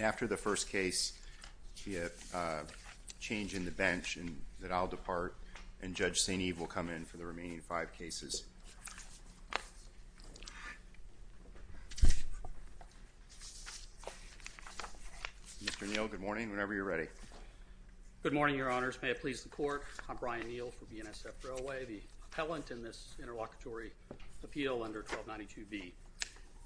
After the first case, we have a change in the bench and I'll depart and Judge St. Eve will come in for the remaining five cases. Mr. Neal, good morning, whenever you're ready. Good morning, your honors. May it please the court, I'm Brian Neal for BNSF Railway, the appellant in this interlocutory appeal under 1292B.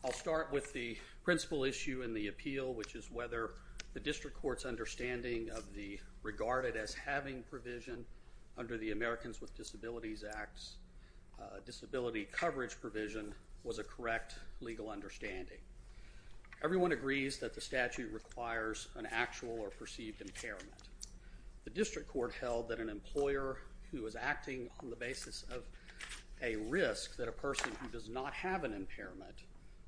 I'll start with the principal issue in the appeal, which is whether the district court's understanding of the regarded as having provision under the Americans with Disabilities Act disability coverage provision was a correct legal understanding. Everyone agrees that the statute requires an actual or perceived impairment. The district court held that an employer who is acting on the basis of a risk that a person who does not have an impairment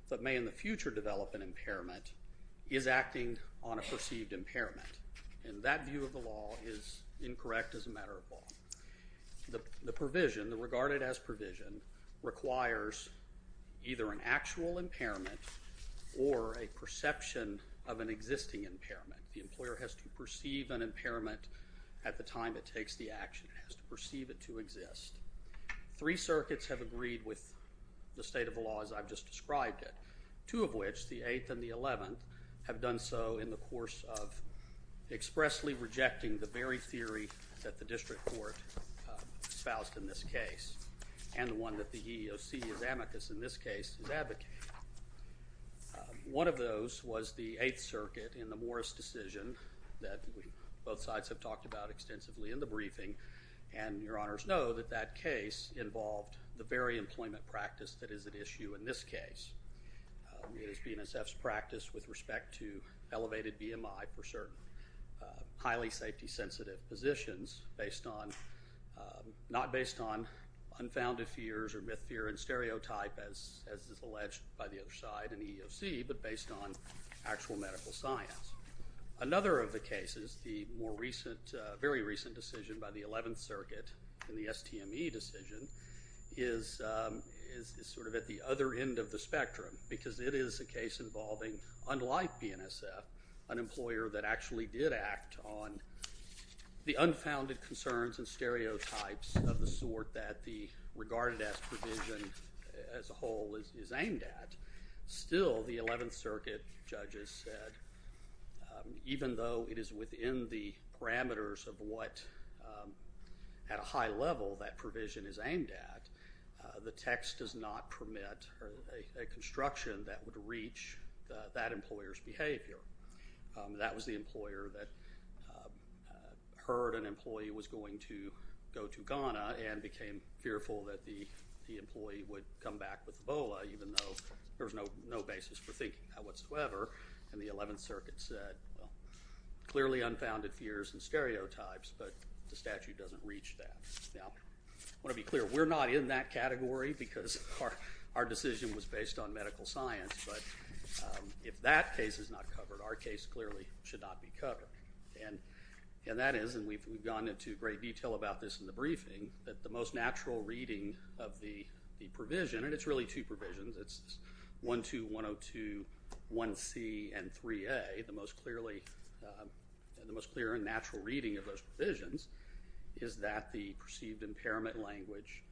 but may in the future develop an impairment is acting on a perceived impairment and that view of the law is incorrect as a matter of law. The provision, the regarded as provision, requires either an actual impairment or a perception of an existing impairment. The employer has to perceive an impairment at the time it takes the action. It has to perceive it to exist. Three circuits have agreed with the state of the law as I've just described it, two of which, the 8th and the 11th, have done so in the course of expressly rejecting the very theory that the district court espoused in this case and the one that the EEOC is amicus in this case is advocating. One of those was the 8th circuit in the Morris decision that both sides have talked about extensively in the briefing and your honors know that that case involved the very employment practice that is at issue in this case. It is BNSF's practice with respect to elevated BMI for certain highly safety sensitive positions based on, not based on unfounded fears or myth, fear, and stereotype as is alleged by the other side in the EEOC but based on actual medical science. Another of the cases, the more recent, very recent decision by the 11th circuit in the spectrum because it is a case involving, unlike BNSF, an employer that actually did act on the unfounded concerns and stereotypes of the sort that the regarded as provision as a whole is aimed at, still the 11th circuit judges said even though it is within the parameters of what at a high level that provision is aimed at, the text does not permit a construction that would reach that employer's behavior. That was the employer that heard an employee was going to go to Ghana and became fearful that the employee would come back with Ebola even though there was no basis for thinking that whatsoever and the 11th circuit said, well, clearly unfounded fears and stereotypes but the statute doesn't reach that. Now, I want to be clear, we're not in that category because our decision was based on medical science but if that case is not covered, our case clearly should not be covered. And that is, and we've gone into great detail about this in the briefing, that the most clear in 1C and 3A, the most clear and natural reading of those provisions is that the perceived impairment language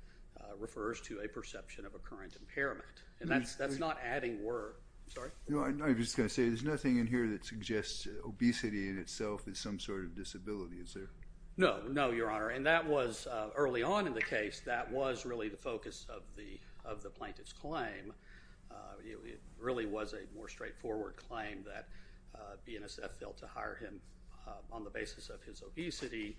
refers to a perception of a current impairment and that's not adding word. I'm sorry? No, I'm just going to say there's nothing in here that suggests obesity in itself is some sort of disability, is there? No, no, Your Honor, and that was early on in the case that was really the focus of the plaintiff's claim. It really was a more straightforward claim that BNSF failed to hire him on the basis of his obesity.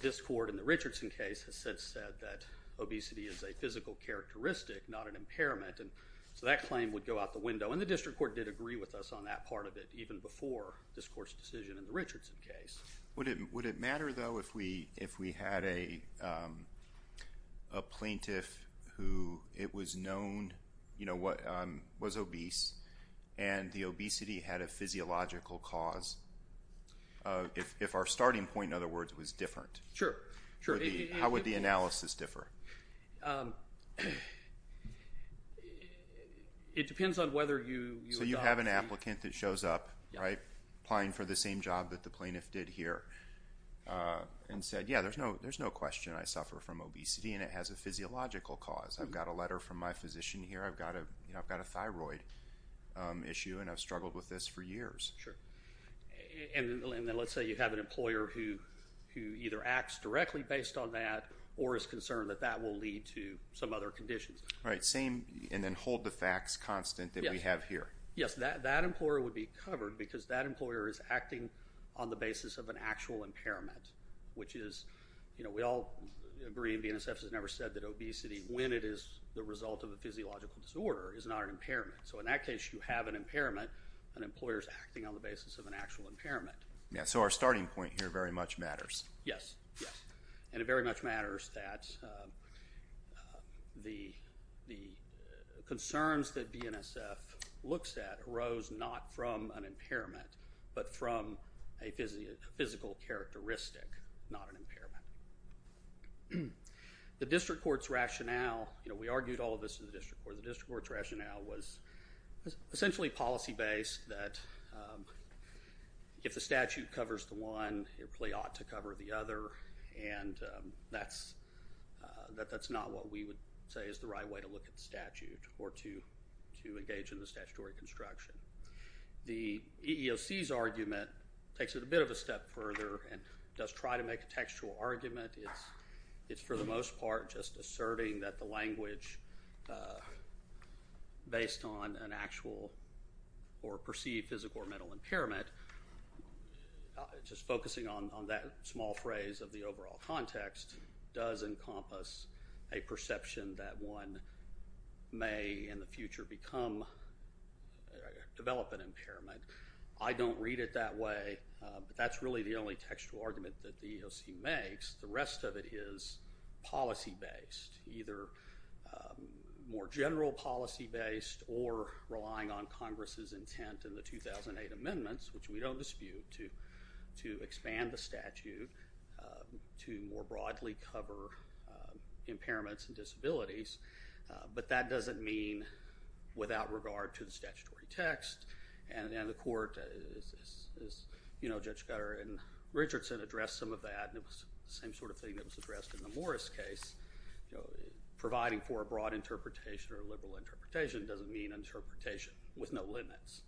This court in the Richardson case has since said that obesity is a physical characteristic, not an impairment and so that claim would go out the window and the district court did agree with us on that part of it even before this court's decision in the Richardson case. Would it matter, though, if we had a plaintiff who it was known was obese and the obesity had a physiological cause, if our starting point, in other words, was different? Sure, sure. How would the analysis differ? It depends on whether you adopted... So you have an applicant that shows up, right? Applying for the same job that the plaintiff did here and said, yeah, there's no question I suffer from obesity and it has a physiological cause. I've got a letter from my physician here. I've got a thyroid issue and I've struggled with this for years. Sure, and then let's say you have an employer who either acts directly based on that or is concerned that that will lead to some other conditions. Right, same and then hold the facts constant that we have here. Yes, that employer would be covered because that employer is acting on the basis of an actual impairment, which is, you know, we all agree and BNSF has never said that obesity, when it is the result of a physiological disorder, is not an impairment. So in that case, you have an impairment and employers acting on the basis of an actual impairment. Yeah, so our starting point here very much matters. Yes, yes. And it very much matters that the concerns that BNSF looks at arose not from an impairment but from a physical characteristic, not an impairment. The district court's rationale, you know, we argued all of this in the district court. The district court's rationale was essentially policy based that if the statute covers the other and that's not what we would say is the right way to look at the statute or to engage in the statutory construction. The EEOC's argument takes it a bit of a step further and does try to make a textual argument. It's for the most part just asserting that the language based on an actual or perceived physical or mental impairment, just focusing on that small phrase of the overall context, does encompass a perception that one may in the future develop an impairment. I don't read it that way, but that's really the only textual argument that the EEOC makes. The rest of it is policy based, either more general policy based or relying on Congress's intent in the 2008 amendments, which we don't dispute, to expand the statute to more broadly cover impairments and disabilities, but that doesn't mean without regard to the statutory text. And the court is, you know, Judge Gutter and Richardson addressed some of that and it was the same sort of thing that was addressed in the Morris case. Providing for a broad interpretation or a liberal interpretation doesn't mean interpretation with no limits.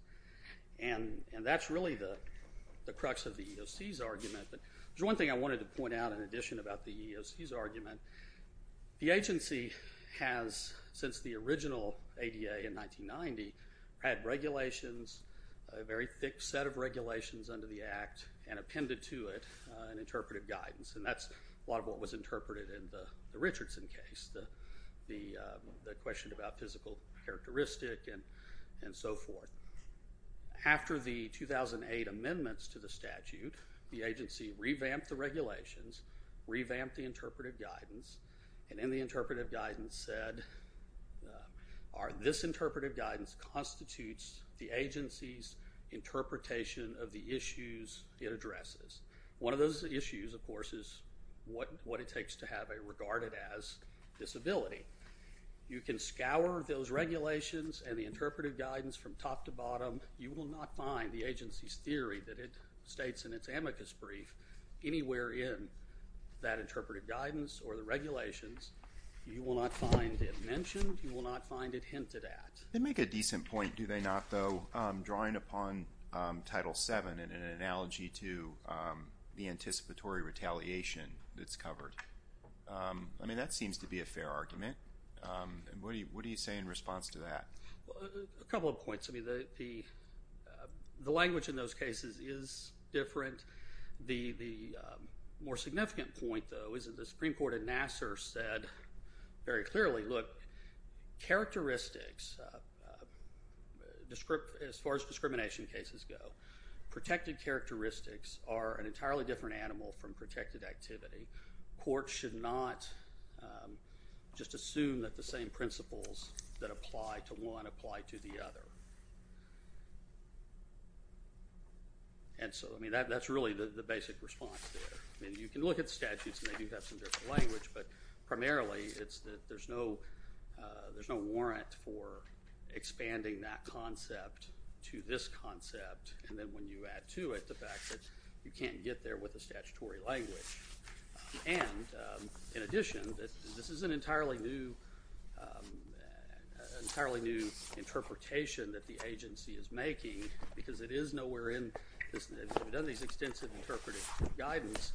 And that's really the crux of the EEOC's argument. There's one thing I wanted to point out in addition about the EEOC's argument. The agency has, since the original ADA in 1990, had regulations, a very thick set of regulations under the Act and appended to it an interpretive guidance. And that's a lot of what was interpreted in the Richardson case. The question about physical characteristic and so forth. After the 2008 amendments to the statute, the agency revamped the regulations, revamped the interpretive guidance, and in the interpretive guidance said, this interpretive guidance constitutes the agency's interpretation of the issues it addresses. One of those issues, of course, is what it takes to have a regarded as disability. You can scour those regulations and the interpretive guidance from top to bottom. You will not find the agency's theory that it states in its amicus brief anywhere in that interpretive guidance or the regulations. You will not find it mentioned. You will not find it hinted at. They make a decent point, do they not, though, drawing upon Title VII in an analogy to the anticipatory retaliation that's covered. I mean, that seems to be a fair argument. What do you say in response to that? A couple of points. I mean, the language in those cases is different. The more significant point, though, is that the Supreme Court in Nassar said very clearly, look, characteristics, as far as discrimination cases go, protected characteristics are an entirely different animal from protected activity. Courts should not just assume that the same principles that apply to one apply to the other. And so, I mean, that's really the basic response there. I mean, you can look at statutes and they do have some different language, but primarily it's that there's no warrant for expanding that concept to this concept and then when you add to it the fact that you can't get there with a statutory language. And in addition, this is an entirely new interpretation that the agency is making because it is nowhere in this. We've done these extensive interpretive guidance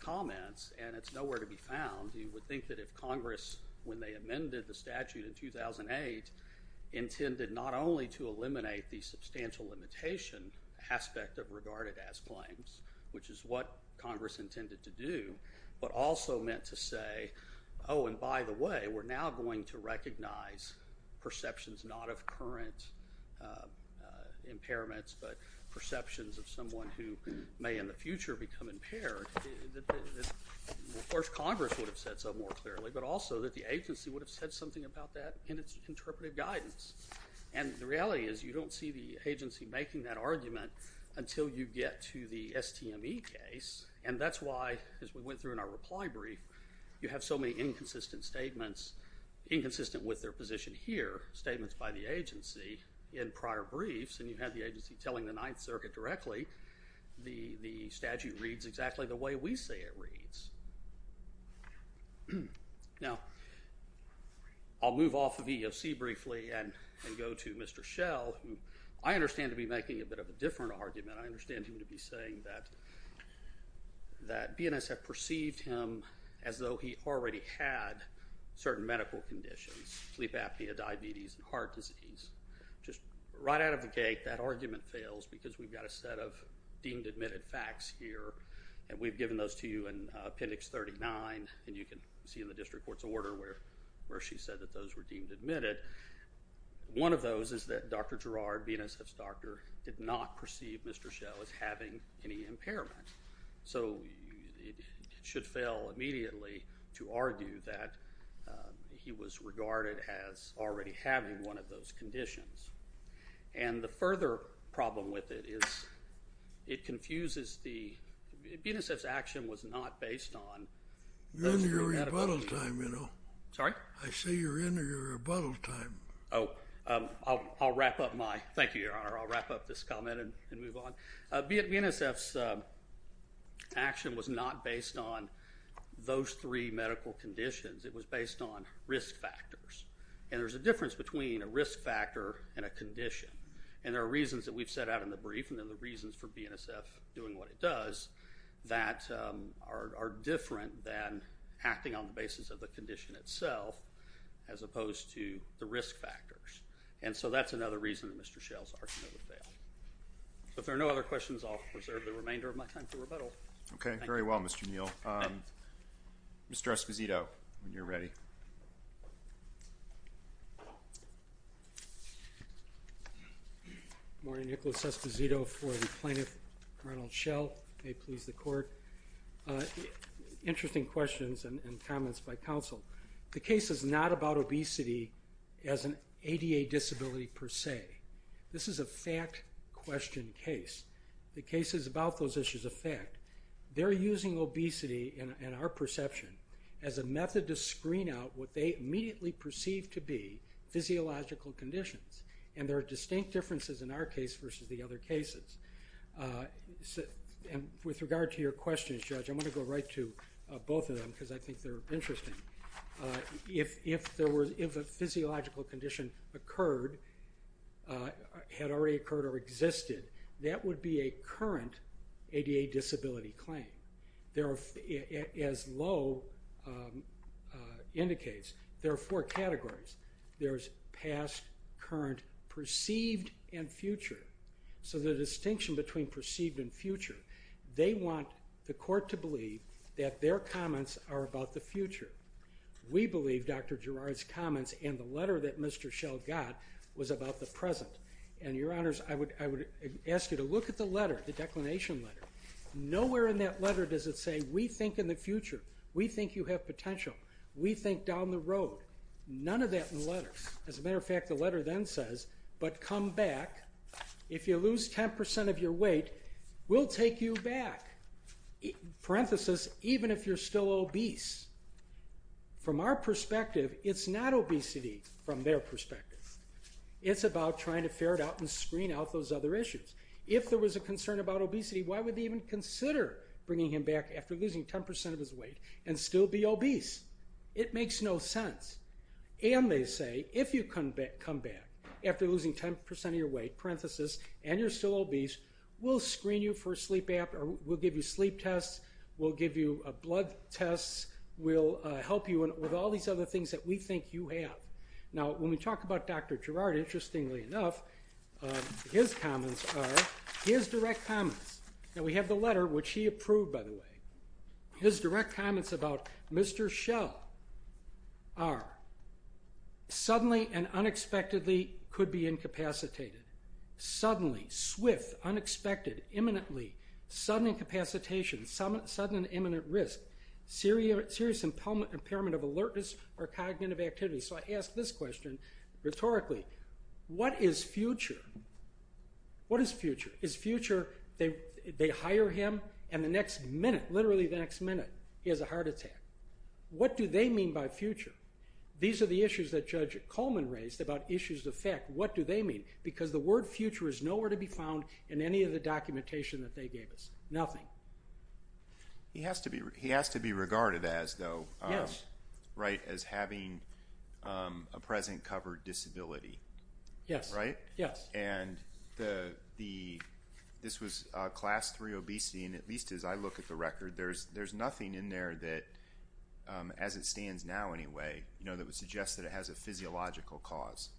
comments and it's nowhere to be found. You would think that if Congress, when they amended the statute in 2008, intended not only to eliminate the substantial limitation aspect of regarded as claims, which is what Congress intended to do, but also meant to say, oh, and by the way, we're now going to recognize perceptions not of current impairments, but perceptions of someone who may in the future become impaired, of course Congress would have said so more clearly, but also that the agency would have said something about that in its interpretive guidance. And the reality is you don't see the agency making that argument until you get to the STME case, and that's why, as we went through in our reply brief, you have so many inconsistent statements, inconsistent with their position here, statements by the agency in prior briefs, and you have the agency telling the Ninth Circuit directly, the statute reads exactly the way we say it reads. Now, I'll move off of EEOC briefly and go to Mr. Schell, who I understand to be making a bit of a different argument. I understand him to be saying that BNSF perceived him as though he already had certain medical conditions, sleep apnea, diabetes, and heart disease. Just right out of the gate, that argument fails because we've got a set of deemed admitted facts here, and we've given those to you in Appendix 39, and you can see in the district court's order where she said that those were deemed admitted. One of those is that Dr. Girard, BNSF's doctor, did not perceive Mr. Schell as having any impairment. So it should fail immediately to argue that he was regarded as already having one of those conditions. And the further problem with it is it confuses the – BNSF's action was not based on those three medical conditions. You're in your rebuttal time, you know. Sorry? I say you're in your rebuttal time. Oh, I'll wrap up my – thank you, Your Honor. I'll wrap up this comment and move on. BNSF's action was not based on those three medical conditions. It was based on risk factors, and there's a difference between a risk factor and a condition, and there are reasons that we've set out in the brief, and then the reasons for BNSF doing what it does, that are different than acting on the basis of the condition itself as opposed to the risk factors. And so that's another reason Mr. Schell's argument failed. So if there are no other questions, I'll preserve the remainder of my time for rebuttal. Okay, very well, Mr. Neal. Mr. Esposito, when you're ready. Good morning. Nicholas Esposito for the plaintiff, Ronald Schell. May it please the court. Interesting questions and comments by counsel. The case is not about obesity as an ADA disability per se. This is a fact-questioned case. The case is about those issues of fact. They're using obesity in our perception as a method to screen out what they immediately perceive to be physiological conditions, and there are distinct differences in our case versus the other cases. And with regard to your questions, Judge, I'm going to go right to both of them because I think they're interesting. If a physiological condition occurred, had already occurred or existed, that would be a current ADA disability claim. As Low indicates, there are four categories. There's past, current, perceived, and future. So the distinction between perceived and future, they want the court to believe that their comments are about the future. We believe Dr. Girard's comments and the letter that Mr. Schell got was about the present. And, Your Honors, I would ask you to look at the letter, the declination letter. Nowhere in that letter does it say we think in the future, we think you have potential, we think down the road. None of that in the letter. As a matter of fact, the letter then says, but come back. If you lose 10% of your weight, we'll take you back. Parenthesis, even if you're still obese. From our perspective, it's not obesity from their perspective. It's about trying to ferret out and screen out those other issues. If there was a concern about obesity, why would they even consider bringing him back after losing 10% of his weight and still be obese? It makes no sense. And they say, if you come back after losing 10% of your weight, parenthesis, and you're still obese, we'll screen you for a sleep app, or we'll give you sleep tests, we'll give you blood tests, we'll help you with all these other things that we think you have. Now, when we talk about Dr. Girard, interestingly enough, his comments are his direct comments. Now, we have the letter, which he approved, by the way. His direct comments about Mr. Schell are suddenly and unexpectedly could be incapacitated. Suddenly, swift, unexpected, imminently, sudden incapacitation, sudden imminent risk, serious impairment of alertness or cognitive activity. So I ask this question rhetorically. What is future? What is future? Is future they hire him, and the next minute, literally the next minute, he has a heart attack? What do they mean by future? These are the issues that Judge Coleman raised about issues of fact. What do they mean? Because the word future is nowhere to be found in any of the documentation that they gave us. Nothing. He has to be regarded as, though, right, as having a present covered disability. Yes. Right? Yes. And this was Class III obesity, and at least as I look at the record, there's nothing in there that, as it stands now anyway, that would suggest that it has a physiological cause.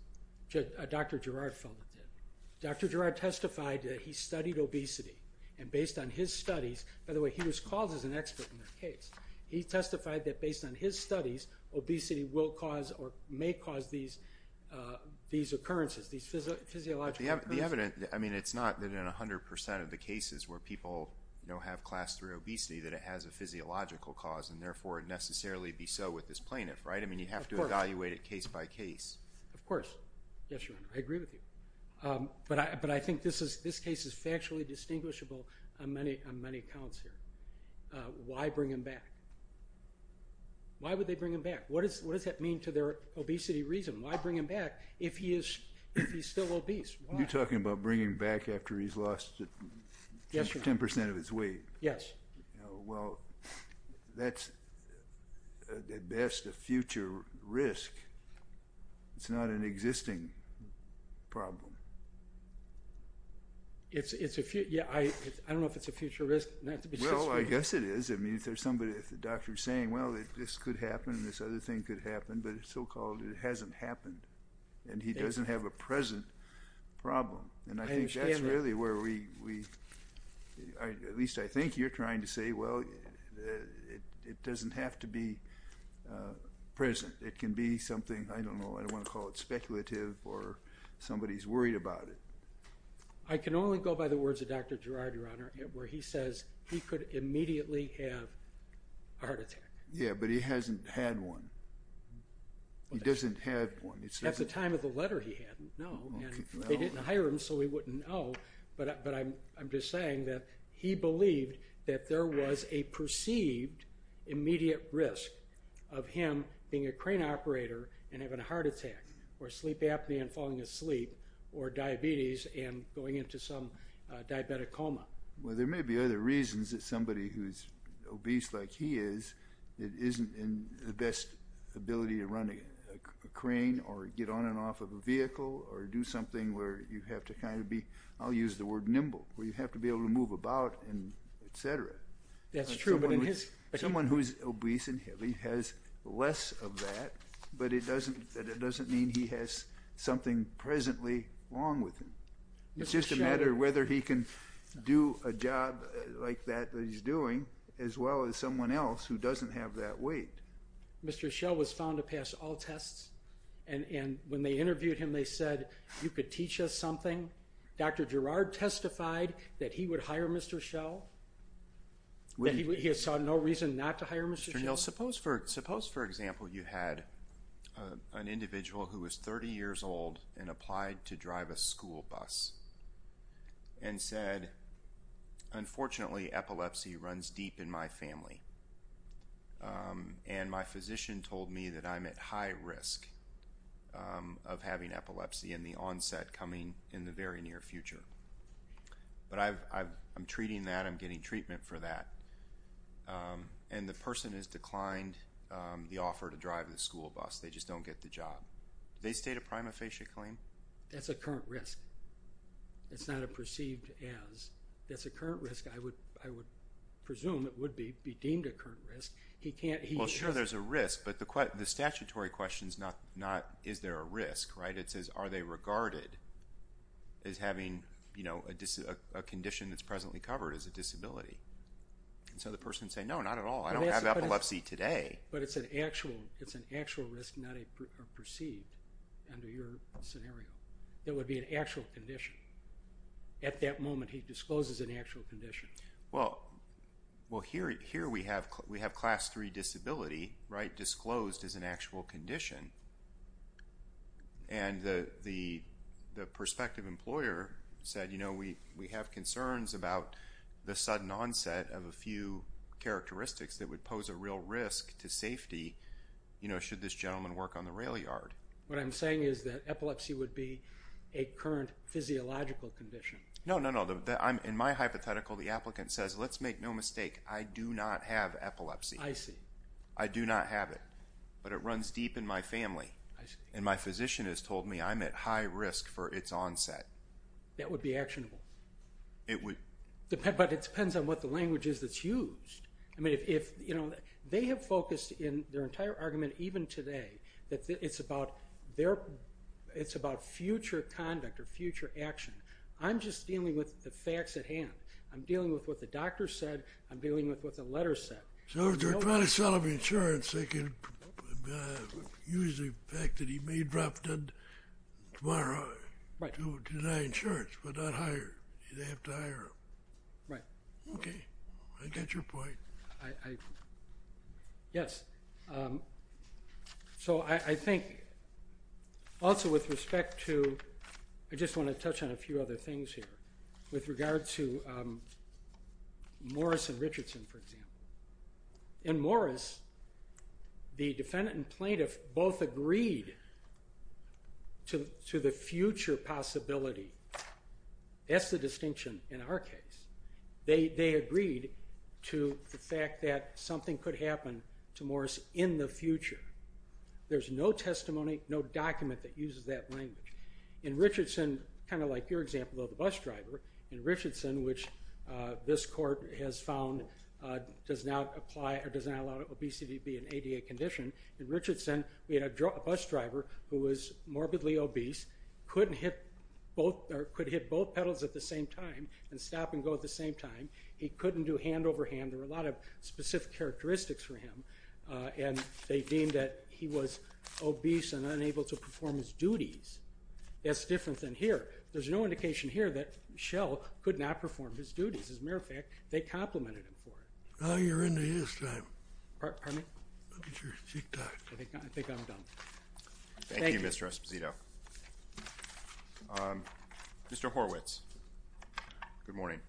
Dr. Girard felt it did. Dr. Girard testified that he studied obesity, and based on his studies, by the way, he was called as an expert in this case. He testified that based on his studies, obesity will cause or may cause these occurrences, these physiological occurrences. The evidence, I mean, it's not that in 100% of the cases where people have Class III obesity that it has a physiological cause and therefore necessarily be so with this plaintiff, right? I mean, you have to evaluate it case by case. Of course. Yes, Your Honor. I agree with you. But I think this case is factually distinguishable on many accounts here. Why bring him back? Why would they bring him back? What does that mean to their obesity reason? Why bring him back if he's still obese? Why? You're talking about bringing him back after he's lost 10% of his weight? Yes. Well, that's at best a future risk. It's not an existing problem. I don't know if it's a future risk. Well, I guess it is. I mean, if there's somebody, if the doctor's saying, well, this could happen, this other thing could happen, but so-called it hasn't happened and he doesn't have a present problem. And I think that's really where we, at least I think you're trying to say, well, it doesn't have to be present. It can be something, I don't know, I don't want to call it speculative or somebody's worried about it. I can only go by the words of Dr. Girard, Your Honor, where he says he could immediately have a heart attack. Yeah, but he hasn't had one. He doesn't have one. At the time of the letter he had, no, and they didn't hire him so he wouldn't know. But I'm just saying that he believed that there was a perceived immediate risk of him being a crane operator and having a heart attack or sleep apnea and falling asleep or diabetes and going into some diabetic coma. Well, there may be other reasons that somebody who's obese like he is isn't in the best ability to run a crane or get on and off of a vehicle or do something where you have to kind of be, I'll use the word nimble, where you have to be able to move about and et cetera. That's true. Someone who's obese and heavy has less of that, but it doesn't mean he has something presently wrong with him. It's just a matter of whether he can do a job like that that he's doing as well as someone else who doesn't have that weight. Mr. Schell was found to pass all tests, and when they interviewed him they said, you could teach us something. Dr. Girard testified that he would hire Mr. Schell, that he saw no reason not to hire Mr. Schell. Suppose, for example, you had an individual who was 30 years old and applied to drive a school bus and said, unfortunately, epilepsy runs deep in my family, and my physician told me that I'm at high risk of having epilepsy, and the onset coming in the very near future. But I'm treating that. I'm getting treatment for that. And the person has declined the offer to drive the school bus. They just don't get the job. Did they state a prima facie claim? That's a current risk. It's not a perceived as. That's a current risk. I would presume it would be deemed a current risk. Well, sure, there's a risk, but the statutory question is not, is there a risk, right? It says, are they regarded as having a condition that's presently covered as a disability? And so the person would say, no, not at all. I don't have epilepsy today. But it's an actual risk, not a perceived under your scenario. It would be an actual condition. At that moment, he discloses an actual condition. Well, here we have class 3 disability disclosed as an actual condition. And the prospective employer said, you know, we have concerns about the sudden onset of a few characteristics that would pose a real risk to safety should this gentleman work on the rail yard. What I'm saying is that epilepsy would be a current physiological condition. No, no, no. In my hypothetical, the applicant says, let's make no mistake, I do not have epilepsy. I see. I do not have it. But it runs deep in my family. And my physician has told me I'm at high risk for its onset. That would be actionable. It would. But it depends on what the language is that's used. I mean, if, you know, they have focused in their entire argument, even today, that it's about future conduct or future action. I'm just dealing with the facts at hand. I'm dealing with what the doctor said. I'm dealing with what the letter said. So if they're trying to sell him insurance, they can use the fact that he may drop dead tomorrow to deny insurance but not hire him. They'd have to hire him. Right. Okay. I get your point. Yes. So I think also with respect to ñ I just want to touch on a few other things here. With regard to Morris and Richardson, for example. In Morris, the defendant and plaintiff both agreed to the future possibility. That's the distinction in our case. They agreed to the fact that something could happen to Morris in the future. There's no testimony, no document that uses that language. In Richardson, kind of like your example of the bus driver, in Richardson, which this court has found does not apply or does not allow obesity to be an ADA condition, in Richardson we had a bus driver who was morbidly obese, could hit both pedals at the same time and stop and go at the same time. He couldn't do hand over hand. There were a lot of specific characteristics for him. And they deemed that he was obese and unable to perform his duties. That's different than here. There's no indication here that Shell could not perform his duties. As a matter of fact, they complimented him for it. Now you're into his time. Pardon me? I think I'm done. Thank you, Mr. Esposito. Mr. Horwitz, good morning. Good morning.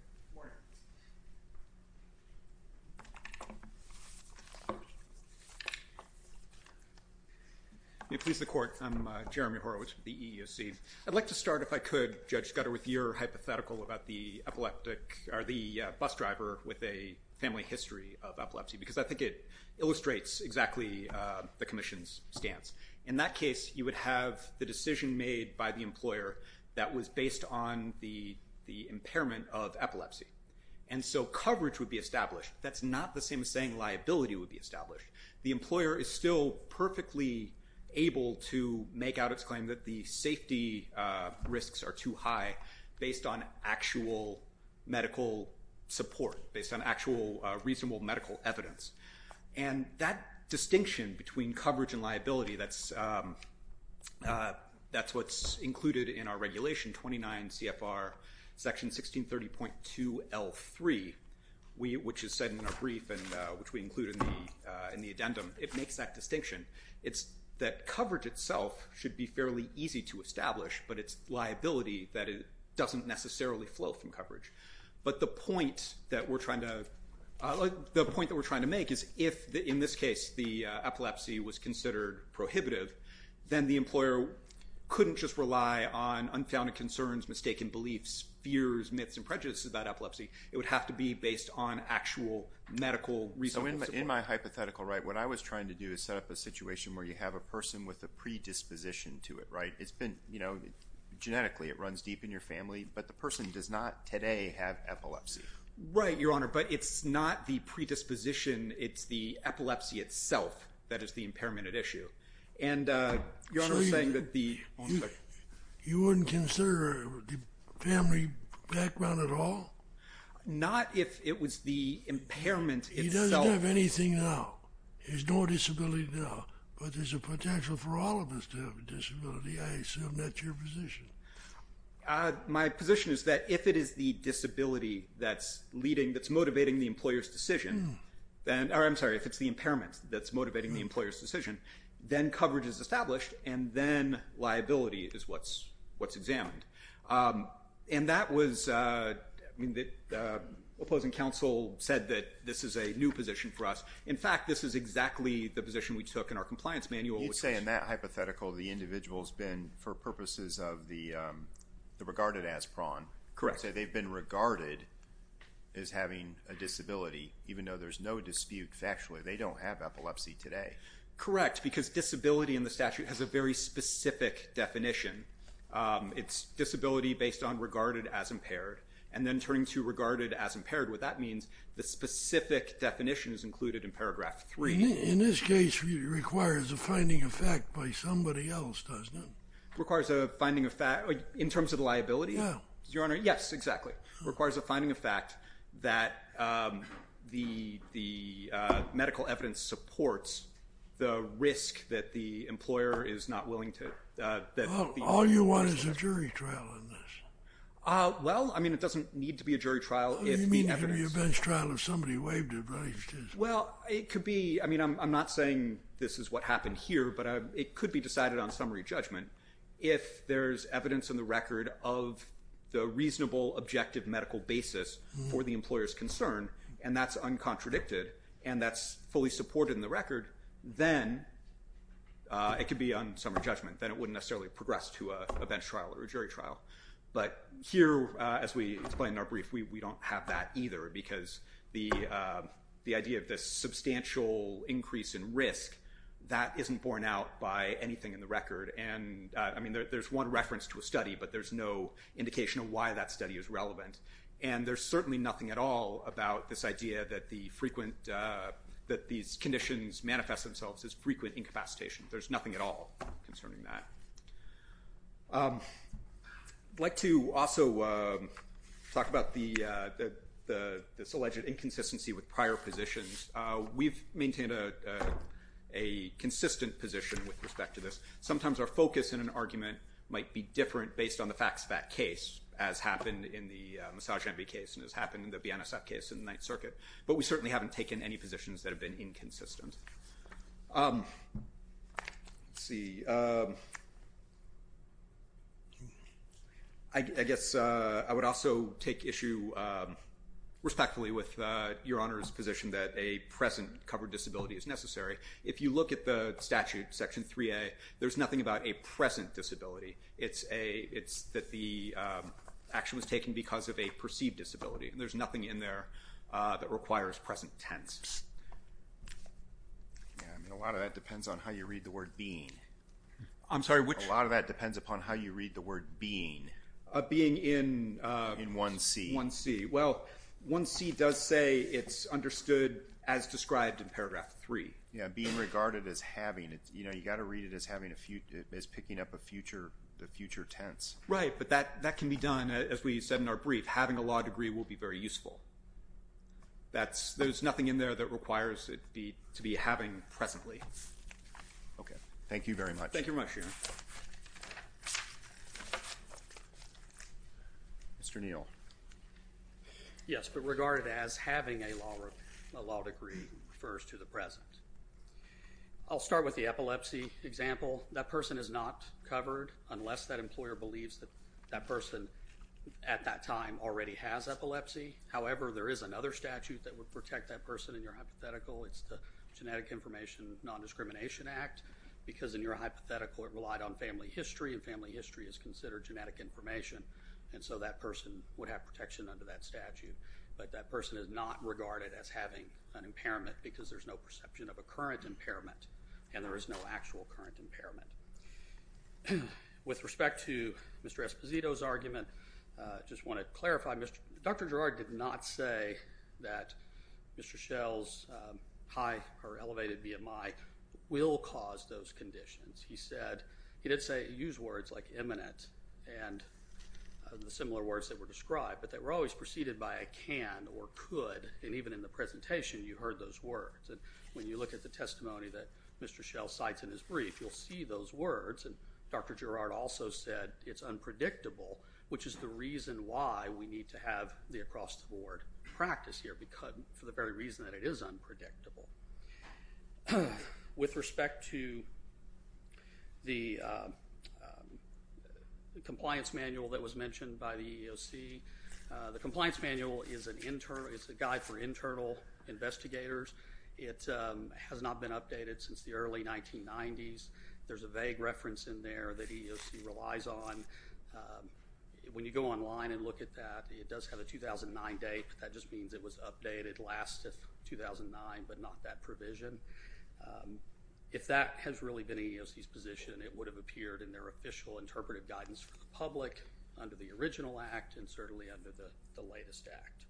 May it please the Court, I'm Jeremy Horwitz with the EEOC. I'd like to start, if I could, Judge Scudder, with your hypothetical about the bus driver with a family history of epilepsy, because I think it illustrates exactly the commission's stance. In that case, you would have the decision made by the employer that was based on the impairment of epilepsy. And so coverage would be established. That's not the same as saying liability would be established. The employer is still perfectly able to make out its claim that the safety risks are too high based on actual medical support, based on actual reasonable medical evidence. And that distinction between coverage and liability, that's what's included in our regulation, 29 CFR Section 1630.2L3, which is set in our brief and which we include in the addendum. It makes that distinction. It's that coverage itself should be fairly easy to establish, but it's liability that it doesn't necessarily flow from coverage. But the point that we're trying to make is if, in this case, the epilepsy was considered prohibitive, then the employer couldn't just rely on unfounded concerns, mistaken beliefs, fears, myths, and prejudices about epilepsy. It would have to be based on actual medical reasonable support. So in my hypothetical, what I was trying to do is set up a situation where you have a person with a predisposition to it. Genetically, it runs deep in your family, but the person does not today have epilepsy. Right, Your Honor, but it's not the predisposition. It's the epilepsy itself that is the impairment at issue. And Your Honor is saying that the— You wouldn't consider the family background at all? Not if it was the impairment itself. He doesn't have anything now. He has no disability now. But there's a potential for all of us to have a disability. I assume that's your position. My position is that if it is the disability that's leading, that's motivating the employer's decision, or I'm sorry, if it's the impairment that's motivating the employer's decision, then coverage is established, and then liability is what's examined. And that was— I mean, the opposing counsel said that this is a new position for us. In fact, this is exactly the position we took in our compliance manual. You'd say in that hypothetical, the individual has been, for purposes of the regarded as prong, they've been regarded as having a disability, even though there's no dispute factually. They don't have epilepsy today. Correct, because disability in the statute has a very specific definition. It's disability based on regarded as impaired, and then turning to regarded as impaired, what that means, the specific definition is included in paragraph 3. In this case, it requires a finding of fact by somebody else, doesn't it? It requires a finding of fact in terms of liability? Yeah. Your Honor, yes, exactly. It requires a finding of fact that the medical evidence supports the risk that the employer is not willing to— All you want is a jury trial in this. Well, I mean, it doesn't need to be a jury trial if the evidence— You mean it could be a bench trial if somebody waived it, right? Well, it could be—I mean, I'm not saying this is what happened here, but it could be decided on summary judgment. If there's evidence in the record of the reasonable, objective medical basis for the employer's concern, and that's uncontradicted, and that's fully supported in the record, then it could be on summary judgment. Then it wouldn't necessarily progress to a bench trial or a jury trial. But here, as we explained in our brief, we don't have that either, because the idea of this substantial increase in risk, that isn't borne out by anything in the record. And, I mean, there's one reference to a study, but there's no indication of why that study is relevant. And there's certainly nothing at all about this idea that these conditions manifest themselves as frequent incapacitation. There's nothing at all concerning that. I'd like to also talk about this alleged inconsistency with prior positions. We've maintained a consistent position with respect to this. Sometimes our focus in an argument might be different based on the facts of that case, as happened in the Massage Envy case, and as happened in the BNSF case in the Ninth Circuit. But we certainly haven't taken any positions that have been inconsistent. Let's see. I guess I would also take issue respectfully with Your Honor's position that a present covered disability is necessary. If you look at the statute, Section 3A, there's nothing about a present disability. It's that the action was taken because of a perceived disability. And there's nothing in there that requires present tense. Yeah, I mean, a lot of that depends on how you read the word being. I'm sorry, which? A lot of that depends upon how you read the word being. Being in? In 1C. 1C. Well, 1C does say it's understood as described in Paragraph 3. Yeah, being regarded as having. You know, you've got to read it as picking up a future tense. Right, but that can be done, as we said in our brief. Having a law degree will be very useful. There's nothing in there that requires it to be having presently. Okay, thank you very much. Thank you very much, Your Honor. Mr. Neal. Yes, but regarded as having a law degree refers to the present. I'll start with the epilepsy example. That person is not covered unless that employer believes that that person at that time already has epilepsy. However, there is another statute that would protect that person in your hypothetical. It's the Genetic Information Nondiscrimination Act because in your hypothetical it relied on family history, and family history is considered genetic information. And so that person would have protection under that statute. But that person is not regarded as having an impairment because there's no perception of a current impairment, and there is no actual current impairment. With respect to Mr. Esposito's argument, I just want to clarify, Dr. Girard did not say that Mr. Schell's high or elevated BMI will cause those conditions. He said, he did say, use words like imminent and the similar words that were described, but they were always preceded by a can or could, and even in the presentation you heard those words. And when you look at the testimony that Mr. Schell cites in his brief, you'll see those words. And Dr. Girard also said it's unpredictable, which is the reason why we need to have the across-the-board practice here for the very reason that it is unpredictable. With respect to the compliance manual that was mentioned by the EEOC, the compliance manual is a guide for internal investigators. It has not been updated since the early 1990s. There's a vague reference in there that EEOC relies on. When you go online and look at that, it does have a 2009 date, but that just means it was updated last 2009, but not that provision. If that has really been EEOC's position, and certainly under the latest act.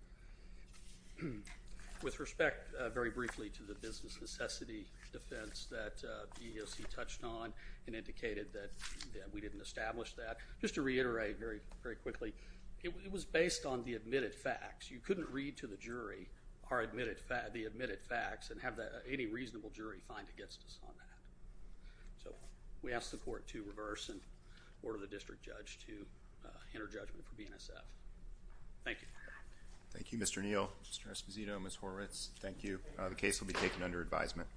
With respect, very briefly, to the business necessity defense that EEOC touched on and indicated that we didn't establish that, just to reiterate very quickly, it was based on the admitted facts. You couldn't read to the jury the admitted facts and have any reasonable jury find against us on that. We ask the court to reverse and order the district judge to enter judgment for BNSF. Thank you. Thank you, Mr. Neal. Mr. Esposito, Ms. Horwitz, thank you. The case will be taken under advisement.